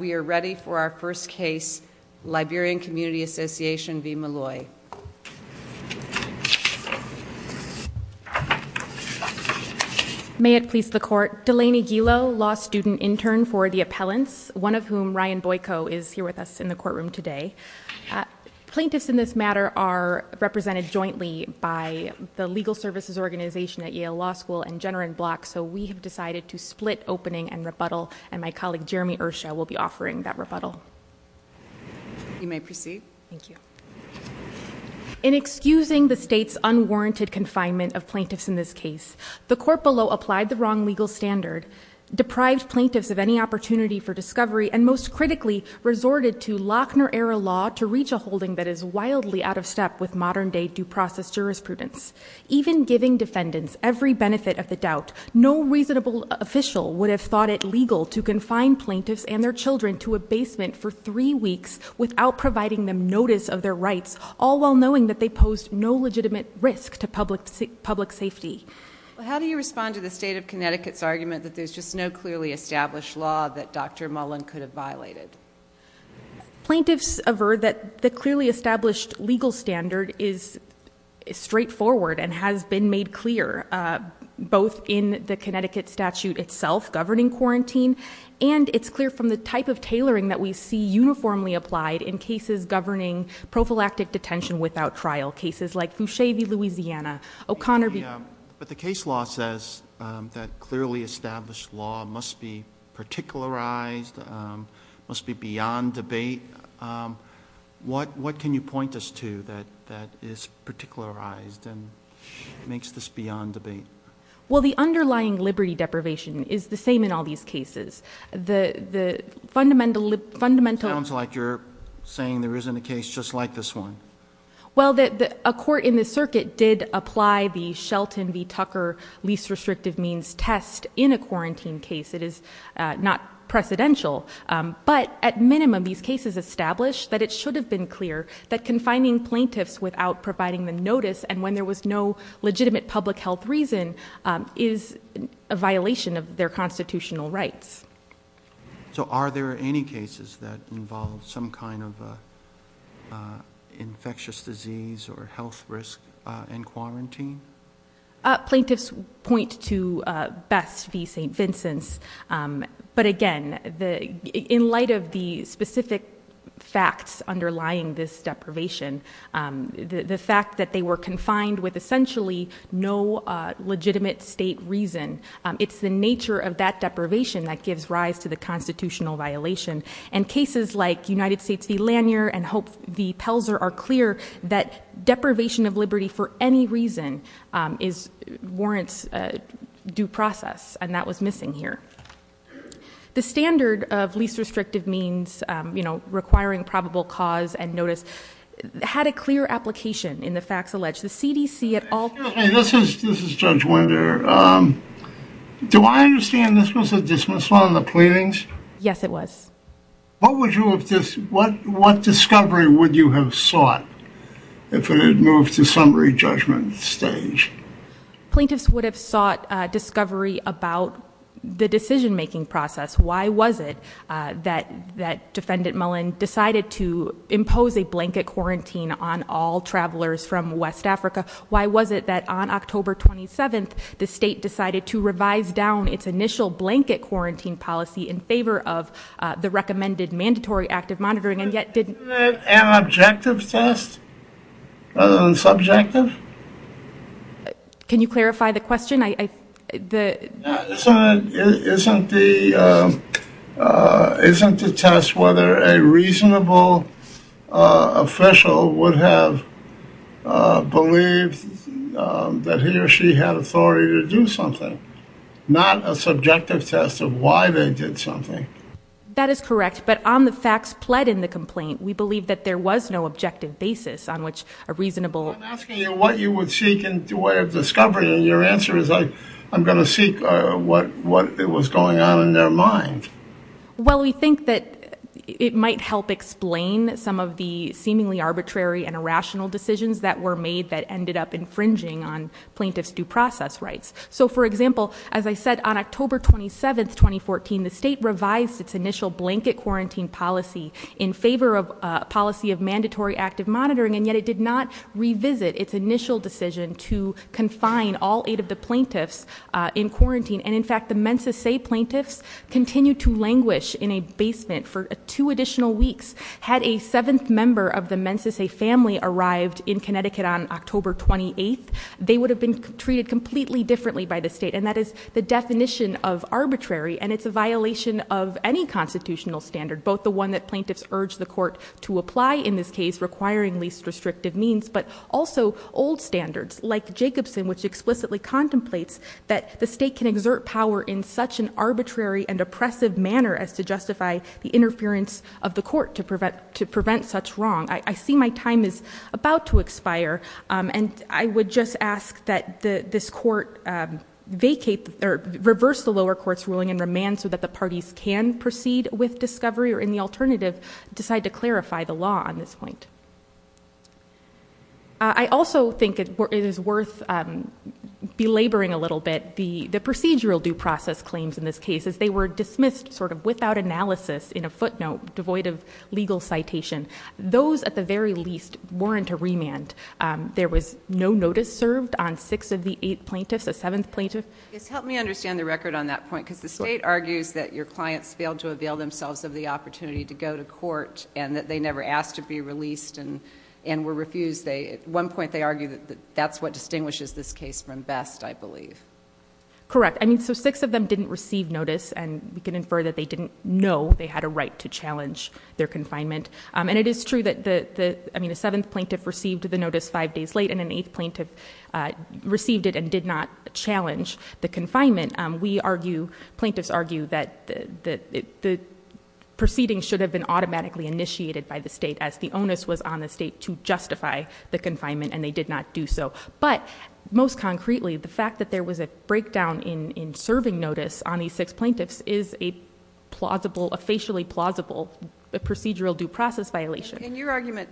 We are ready for our first case, Liberian Community Association v. Malloy. May it please the court, Delaney Gilo, law student intern for the appellants, one of whom, Ryan Boyko, is here with us in the courtroom today. Plaintiffs in this matter are represented jointly by the Legal Services Organization at Yale Law School and Jenner and Block, so we have decided to split opening and rebuttal, and my colleague Jeremy Ursha will be offering that rebuttal. You may proceed. Thank you. In excusing the state's unwarranted confinement of plaintiffs in this case, the court below applied the wrong legal standard, deprived plaintiffs of any opportunity for discovery, and most critically, resorted to Lochner-era law to reach a holding that is wildly out of step with modern-day due process jurisprudence. Even giving defendants every benefit of the doubt, no reasonable official would have thought it legal to confine plaintiffs and their children to a basement for three weeks without providing them notice of their rights, all while knowing that they posed no legitimate risk to public safety. How do you respond to the state of Connecticut's argument that there's just no clearly established law that Dr. Mullen could have violated? Plaintiffs averred that the clearly established legal standard is straightforward and has been made clear both in the Connecticut statute itself governing quarantine, and it's clear from the type of tailoring that we see uniformly applied in cases governing prophylactic detention without trial, cases like Fusche v. Louisiana, O'Connor v... But the case law says that clearly established law must be particularized, must be beyond debate. What can you point us to that is particularized and makes this beyond debate? Well, the underlying liberty deprivation is the same in all these cases. The fundamental... Sounds like you're saying there isn't a case just like this one. Well, a court in the circuit did apply the Shelton v. Tucker least restrictive means test in a quarantine case. It is not precedential, but at minimum these cases establish that it should have been clear that confining plaintiffs without providing them notice and when there was no legitimate public health reason is a violation of their constitutional rights. So are there any cases that involve some kind of infectious disease or health risk in quarantine? Plaintiffs point to Best v. St. Vincent's, but again, in light of the specific facts underlying this deprivation, the fact that they were confined with essentially no legitimate state reason, it's the nature of that deprivation that gives rise to the constitutional violation and cases like United States v. Lanier and Hope v. Pelzer are clear that deprivation of liberty for any reason warrants due process and that was missing here. The standard of least restrictive means requiring probable cause and notice had a clear application in the facts alleged. The CDC at all... Excuse me, this is Judge Winder. Do I understand this was a dismissal in the pleadings? Yes, it was. What discovery would you have sought if it had moved to summary judgment stage? Plaintiffs would have sought discovery about the decision-making process. Why was it that Defendant Mullen decided to impose a blanket quarantine on all travelers from West Africa? Why was it that on October 27th the state decided to revise down its initial blanket quarantine policy in favor of the recommended mandatory active monitoring and yet didn't... Can you clarify the question? Isn't the test whether a reasonable official would have believed that he or she had authority to do something, not a subjective test of why they did something? That is correct, but on the facts pled in the complaint, we believe that there was no objective basis on which a reasonable... Your answer is I'm going to seek what was going on in their mind. Well, we think that it might help explain some of the seemingly arbitrary and irrational decisions that were made that ended up infringing on plaintiffs' due process rights. So, for example, as I said, on October 27th, 2014, the state revised its initial blanket quarantine policy in favor of a policy of mandatory active monitoring and yet it did not revisit its initial decision to confine all eight of the plaintiffs in quarantine. And, in fact, the Mensa Sey plaintiffs continued to languish in a basement for two additional weeks. Had a seventh member of the Mensa Sey family arrived in Connecticut on October 28th, they would have been treated completely differently by the state. And that is the definition of arbitrary, and it's a violation of any constitutional standard, both the one that plaintiffs urged the court to apply in this case, requiring least restrictive means, but also old standards like Jacobson, which explicitly contemplates that the state can exert power in such an arbitrary and oppressive manner as to justify the interference of the court to prevent such wrong. I see my time is about to expire, and I would just ask that this court vacate... or reverse the lower court's ruling and remand so that the parties can proceed with discovery or, in the alternative, decide to clarify the law on this point. I also think it is worth belaboring a little bit the procedural due process claims in this case, as they were dismissed sort of without analysis in a footnote devoid of legal citation. Those, at the very least, warrant a remand. There was no notice served on six of the eight plaintiffs, a seventh plaintiff. Yes, help me understand the record on that point, because the state argues that your clients failed to avail themselves of the opportunity to go to court and that they never asked to be released and were refused. At one point, they argued that that's what distinguishes this case from best, I believe. Correct. I mean, so six of them didn't receive notice, and we can infer that they didn't know they had a right to challenge their confinement. And it is true that... I mean, a seventh plaintiff received the notice five days late, and an eighth plaintiff received it and did not challenge the confinement. We argue, plaintiffs argue, that the proceedings should have been automatically initiated by the state, as the onus was on the state to justify the confinement, and they did not do so. But, most concretely, the fact that there was a breakdown in serving notice on these six plaintiffs is a facially plausible procedural due process violation. And your argument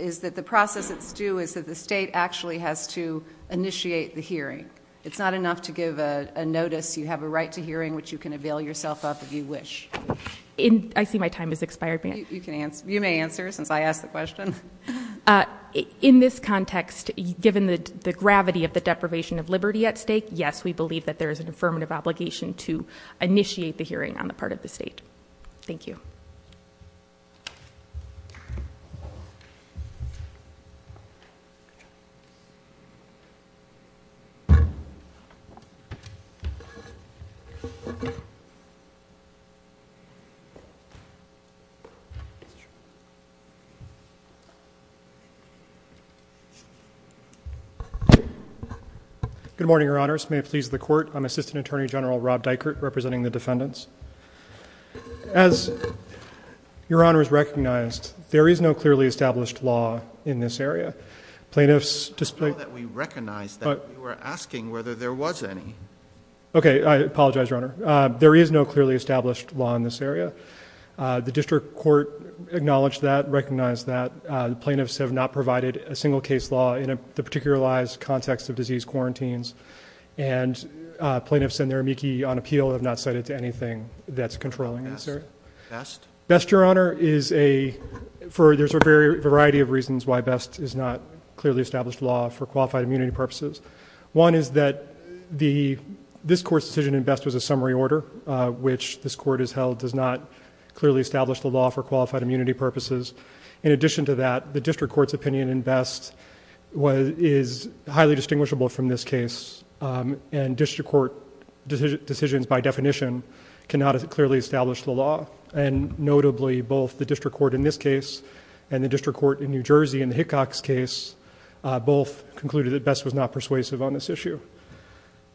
is that the process that's due is that the state actually has to initiate the hearing. It's not enough to give a notice. You have a right to hearing, which you can avail yourself of if you wish. I see my time has expired, ma'am. You may answer, since I asked the question. In this context, given the gravity of the deprivation of liberty at stake, yes, we believe that there is an affirmative obligation to initiate the hearing on the part of the state. Thank you. Good morning, Your Honors. May it please the Court, I'm Assistant Attorney General Rob Dykert, representing the defendants. As Your Honors recognized, there is no clearly established law in this area. Plaintiffs display- I know that we recognize that, but you were asking whether there was any. Okay, I apologize, Your Honor. There is no clearly established law in this area. The district court acknowledged that, recognized that. Plaintiffs have not provided a single case law in the particularized context of disease quarantines. And plaintiffs and their amici on appeal have not cited to anything that's controlling this area. Best? Best, Your Honor, is a, there's a variety of reasons why Best is not clearly established law for qualified immunity purposes. One is that this court's decision in Best was a summary order, which this court has held does not clearly establish the law for qualified immunity purposes. In addition to that, the district court's opinion in Best is highly distinguishable from this case. And district court decisions by definition cannot clearly establish the law. And notably, both the district court in this case and the district court in New Jersey in the Hickox case both concluded that Best was not persuasive on this issue.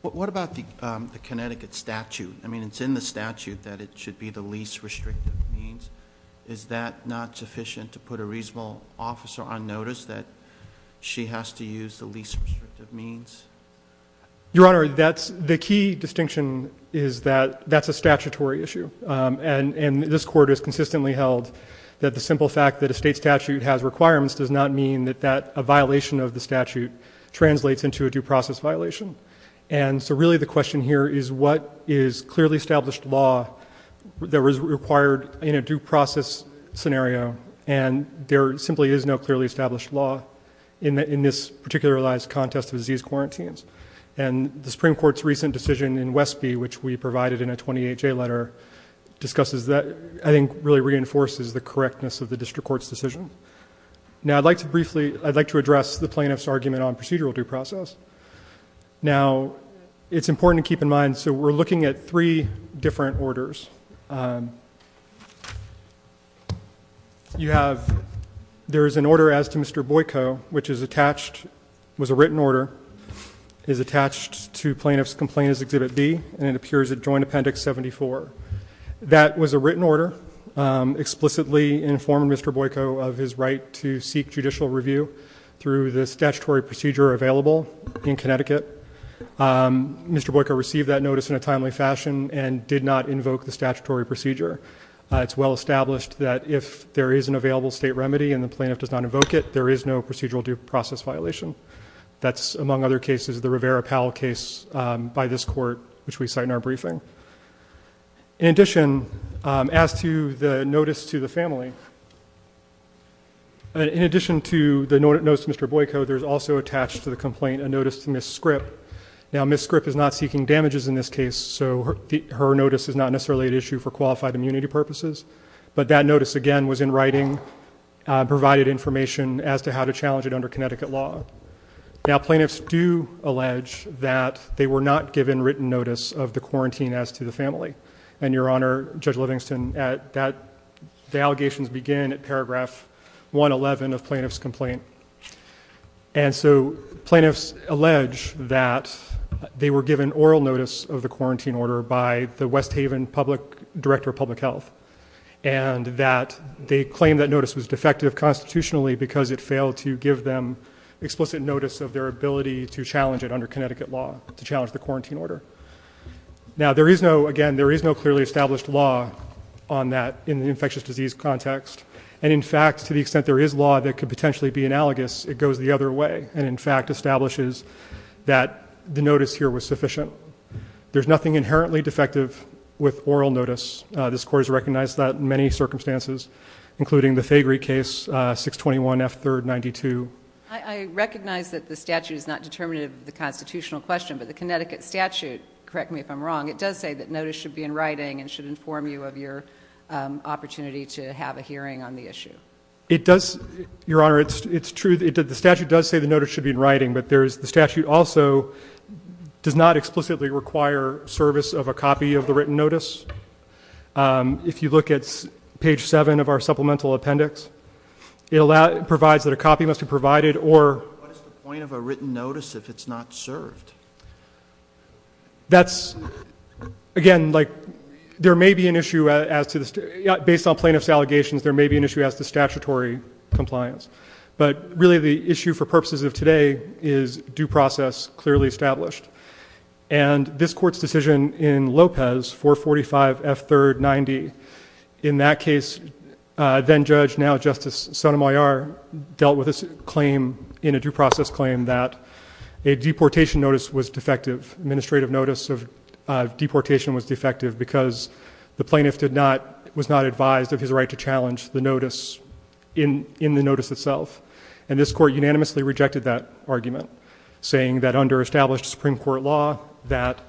What about the Connecticut statute? I mean, it's in the statute that it should be the least restrictive means. Is that not sufficient to put a reasonable officer on notice that she has to use the least restrictive means? Your Honor, that's, the key distinction is that that's a statutory issue. And this court has consistently held that the simple fact that a state statute has requirements does not mean that a violation of the statute translates into a due process violation. And so really the question here is what is clearly established law that was required in a due process scenario and there simply is no clearly established law in this particularized contest of disease quarantines. And the Supreme Court's recent decision in Westby, which we provided in a 28-J letter, discusses that, I think really reinforces the correctness of the district court's decision. Now I'd like to briefly, I'd like to address the plaintiff's argument on procedural due process. Now, it's important to keep in mind, so we're looking at three different orders. You have, there is an order as to Mr. Boyko, which is attached, was a written order, is attached to plaintiff's complaint as Exhibit D, and it appears at Joint Appendix 74. That was a written order explicitly informing Mr. Boyko of his right to seek judicial review through the statutory procedure available in Connecticut. Mr. Boyko received that notice in a timely fashion and did not invoke the statutory procedure. It's well established that if there is an available state remedy and the plaintiff does not invoke it, there is no procedural due process violation. That's, among other cases, the Rivera-Powell case by this court, which we cite in our briefing. In addition, as to the notice to the family, in addition to the notice to Mr. Boyko, there's also attached to the complaint a notice to Ms. Scripp. Now, Ms. Scripp is not seeking damages in this case, so her notice is not necessarily at issue for qualified immunity purposes. But that notice, again, was in writing, provided information as to how to challenge it under Connecticut law. Now, plaintiffs do allege that they were not given written notice of the quarantine as to the family. And, Your Honor, Judge Livingston, the allegations begin at paragraph 111 of plaintiff's complaint. And so plaintiffs allege that they were given oral notice of the quarantine order by the West Haven Director of Public Health, and that they claim that notice was defective constitutionally because it failed to give them explicit notice of their ability to challenge it under Connecticut law, to challenge the quarantine order. Now, there is no, again, there is no clearly established law on that in the infectious disease context. And, in fact, to the extent there is law that could potentially be analogous, it goes the other way and, in fact, establishes that the notice here was sufficient. There's nothing inherently defective with oral notice. This Court has recognized that in many circumstances, including the Faygree case, 621 F. 3rd, 92. I recognize that the statute is not determinative of the constitutional question, but the Connecticut statute, correct me if I'm wrong, it does say that notice should be in writing and should inform you of your opportunity to have a hearing on the issue. It does, Your Honor, it's true, the statute does say the notice should be in writing, but the statute also does not explicitly require service of a copy of the written notice. If you look at page 7 of our supplemental appendix, it provides that a copy must be provided or... What is the point of a written notice if it's not served? That's, again, like there may be an issue as to the, based on plaintiff's allegations, there may be an issue as to statutory compliance. But really the issue for purposes of today is due process clearly established. And this Court's decision in Lopez, 445 F. 3rd, 90, in that case, then judge, now Justice Sotomayor, dealt with this claim in a due process claim that a deportation notice was defective, administrative notice of deportation was defective because the plaintiff did not, was not advised of his right to challenge the notice in the notice itself. And this Court unanimously rejected that argument, saying that under established Supreme Court law, that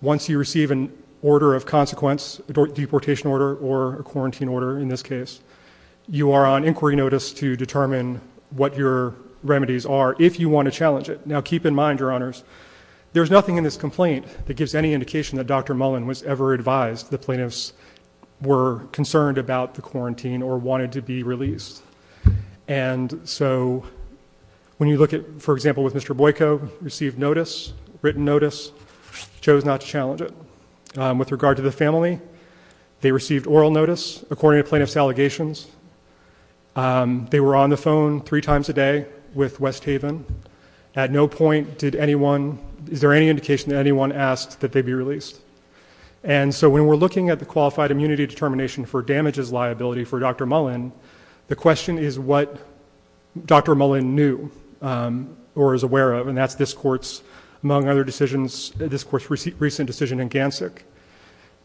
once you receive an order of consequence, a deportation order or a quarantine order in this case, you are on inquiry notice to determine what your remedies are if you want to challenge it. Now keep in mind, Your Honors, there's nothing in this complaint that gives any indication that Dr. Mullen was ever advised the plaintiffs were concerned about the quarantine or wanted to be released. And so when you look at, for example, with Mr. Boyko, received notice, written notice, chose not to challenge it. With regard to the family, they received oral notice according to plaintiff's allegations. They were on the phone three times a day with West Haven. At no point did anyone, is there any indication that anyone asked that they be released? And so when we're looking at the qualified immunity determination for damages liability for Dr. Mullen, the question is what Dr. Mullen knew or is aware of, and that's this Court's, among other decisions, this Court's recent decision in Gansik.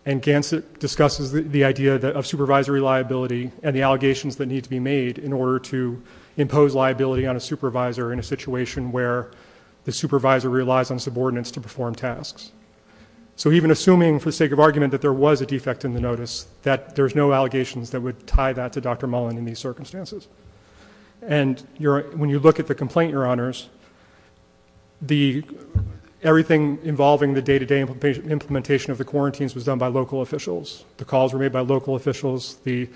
And Gansik discusses the idea of supervisory liability and the allegations that need to be made in order to impose liability on a supervisor in a situation where the supervisor relies on subordinates to perform tasks. So even assuming, for the sake of argument, that there was a defect in the notice, that there's no allegations that would tie that to Dr. Mullen in these circumstances. And when you look at the complaint, Your Honors, everything involving the day-to-day implementation of the quarantines was done by local officials. The calls were made by local officials. The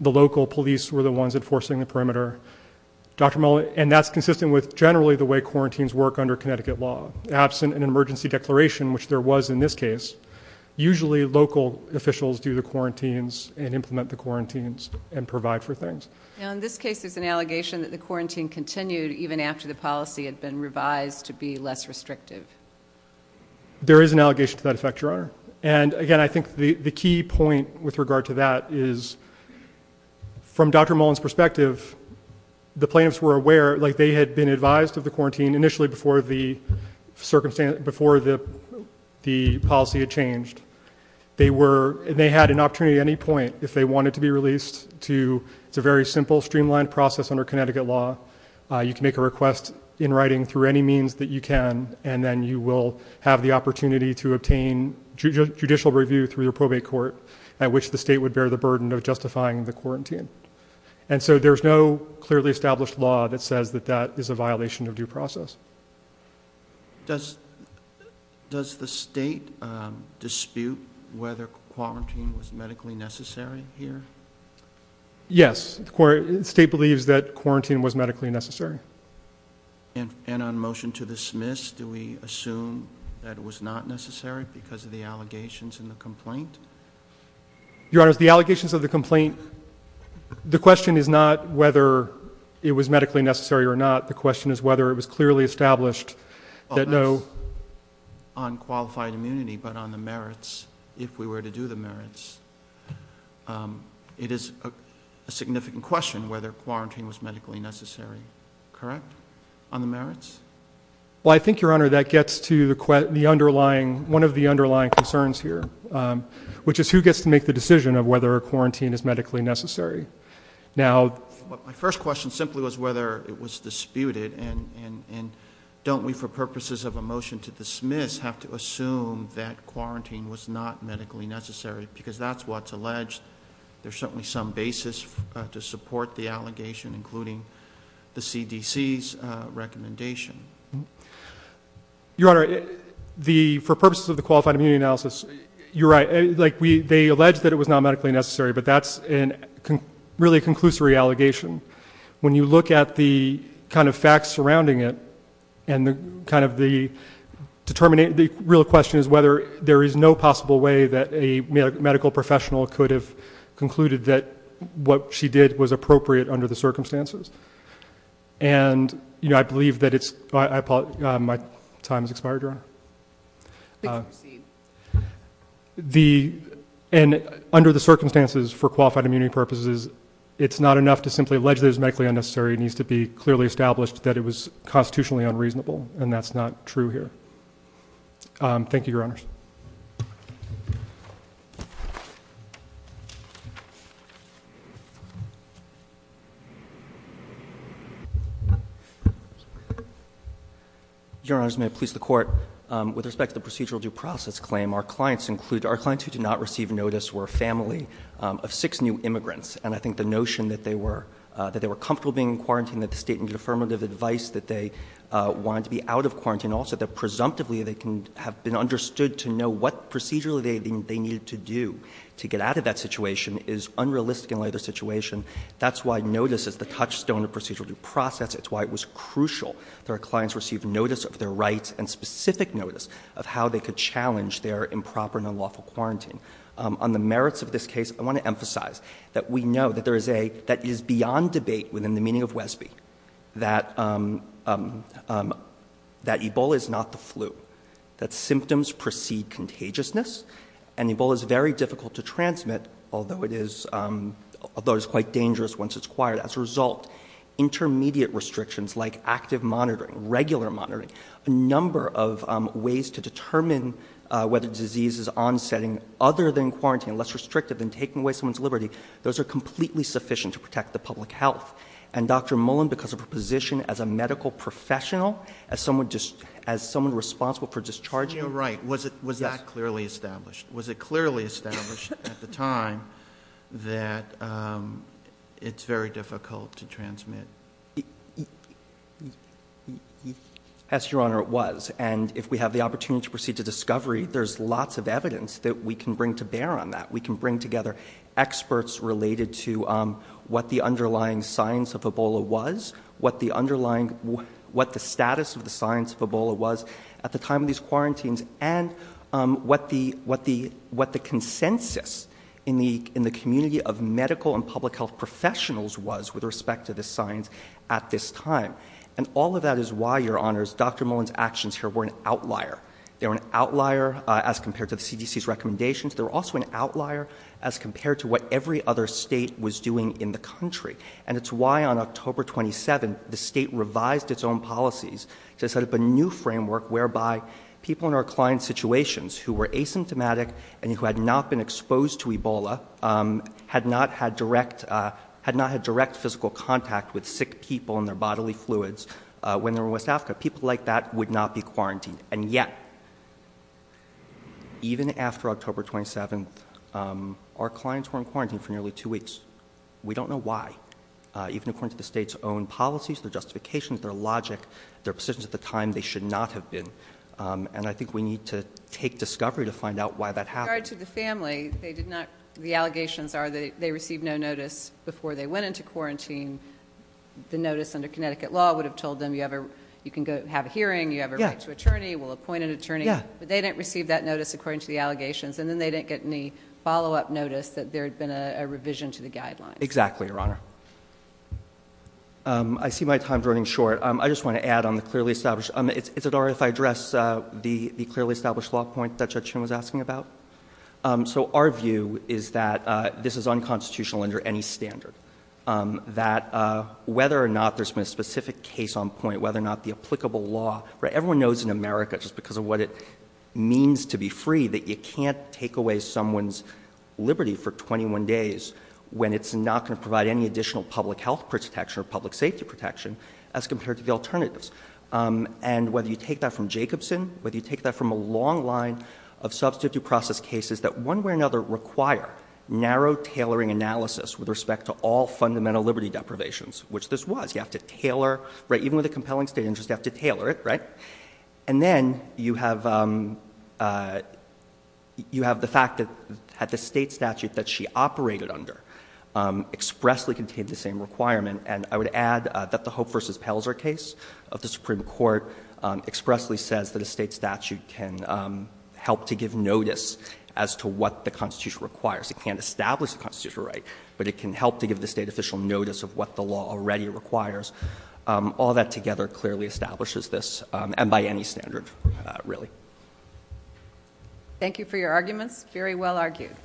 local police were the ones enforcing the perimeter. Dr. Mullen, and that's consistent with generally the way quarantines work under Connecticut law. Absent an emergency declaration, which there was in this case, usually local officials do the quarantines and implement the quarantines and provide for things. Now, in this case, there's an allegation that the quarantine continued even after the policy had been revised to be less restrictive. There is an allegation to that effect, Your Honor. And, again, I think the key point with regard to that is, from Dr. Mullen's perspective, the plaintiffs were aware, like they had been advised of the quarantine initially before the policy had changed. They had an opportunity at any point if they wanted to be released. It's a very simple, streamlined process under Connecticut law. You can make a request in writing through any means that you can, and then you will have the opportunity to obtain judicial review through the probate court at which the state would bear the burden of justifying the quarantine. And so there's no clearly established law that says that that is a violation of due process. Does the state dispute whether quarantine was medically necessary here? Yes. The state believes that quarantine was medically necessary. And on motion to dismiss, do we assume that it was not necessary because of the allegations in the complaint? Your Honor, the allegations of the complaint, the question is not whether it was medically necessary or not. The question is whether it was clearly established that no— Well, that's on qualified immunity, but on the merits, if we were to do the merits. It is a significant question whether quarantine was medically necessary. Correct? On the merits? Well, I think, Your Honor, that gets to the underlying—one of the underlying concerns here, which is who gets to make the decision of whether a quarantine is medically necessary. Now, my first question simply was whether it was disputed, and don't we, for purposes of a motion to dismiss, have to assume that quarantine was not medically necessary because that's what's alleged. There's certainly some basis to support the allegation, including the CDC's recommendation. Your Honor, for purposes of the qualified immunity analysis, you're right. They allege that it was not medically necessary, but that's really a conclusory allegation. When you look at the kind of facts surrounding it and the kind of the— My question is whether there is no possible way that a medical professional could have concluded that what she did was appropriate under the circumstances. And, you know, I believe that it's—my time has expired, Your Honor. Please proceed. The—and under the circumstances for qualified immunity purposes, it's not enough to simply allege that it was medically unnecessary. It needs to be clearly established that it was constitutionally unreasonable, and that's not true here. Thank you, Your Honors. Your Honors, may I please the Court? With respect to the procedural due process claim, our clients include— our clients who did not receive notice were a family of six new immigrants, and I think the notion that they were comfortable being in quarantine, that the state needed affirmative advice, that they wanted to be out of quarantine, and also that presumptively they can have been understood to know what procedurally they needed to do to get out of that situation is unrealistic in a later situation. That's why notice is the touchstone of procedural due process. It's why it was crucial that our clients receive notice of their rights and specific notice of how they could challenge their improper and unlawful quarantine. On the merits of this case, I want to emphasize that we know that there is a— that Ebola is not the flu, that symptoms precede contagiousness, and Ebola is very difficult to transmit, although it is quite dangerous once it's acquired. As a result, intermediate restrictions like active monitoring, regular monitoring, a number of ways to determine whether disease is onsetting other than quarantine, less restrictive than taking away someone's liberty, those are completely sufficient to protect the public health. And Dr. Mullen, because of her position as a medical professional, as someone responsible for discharging— You're right. Was that clearly established? Was it clearly established at the time that it's very difficult to transmit? As, Your Honor, it was. And if we have the opportunity to proceed to discovery, there's lots of evidence that we can bring to bear on that. We can bring together experts related to what the underlying science of Ebola was, what the underlying—what the status of the science of Ebola was at the time of these quarantines, and what the consensus in the community of medical and public health professionals was with respect to the science at this time. And all of that is why, Your Honors, Dr. Mullen's actions here were an outlier. They were an outlier as compared to the CDC's recommendations. They were also an outlier as compared to what every other state was doing in the country. And it's why, on October 27th, the state revised its own policies to set up a new framework whereby people in our client situations who were asymptomatic and who had not been exposed to Ebola had not had direct physical contact with sick people and their bodily fluids when they were in West Africa. People like that would not be quarantined. And yet, even after October 27th, our clients were in quarantine for nearly two weeks. We don't know why. Even according to the state's own policies, their justifications, their logic, their positions at the time, they should not have been. And I think we need to take discovery to find out why that happened. With regard to the family, they did not—the allegations are that they received no notice before they went into quarantine. The notice under Connecticut law would have told them you can have a hearing, you have a right to attorney, we'll appoint an attorney. But they didn't receive that notice according to the allegations. And then they didn't get any follow-up notice that there had been a revision to the guidelines. Exactly, Your Honor. I see my time's running short. I just want to add on the clearly established— Is it all right if I address the clearly established law point that Judge Chin was asking about? So our view is that this is unconstitutional under any standard. That whether or not there's been a specific case on point, whether or not the applicable law— Everyone knows in America, just because of what it means to be free, that you can't take away someone's liberty for 21 days when it's not going to provide any additional public health protection or public safety protection as compared to the alternatives. And whether you take that from Jacobson, whether you take that from a long line of substitute process cases that one way or another require narrow tailoring analysis with respect to all fundamental liberty deprivations, which this was. You have to tailor. Even with a compelling state interest, you have to tailor it, right? And then you have the fact that the state statute that she operated under expressly contained the same requirement. And I would add that the Hope v. Pelzer case of the Supreme Court expressly says that a state statute can help to give notice as to what the Constitution requires. It can't establish the constitutional right, but it can help to give the state official notice of what the law already requires. All that together clearly establishes this, and by any standard, really. Thank you for your arguments. Very well argued.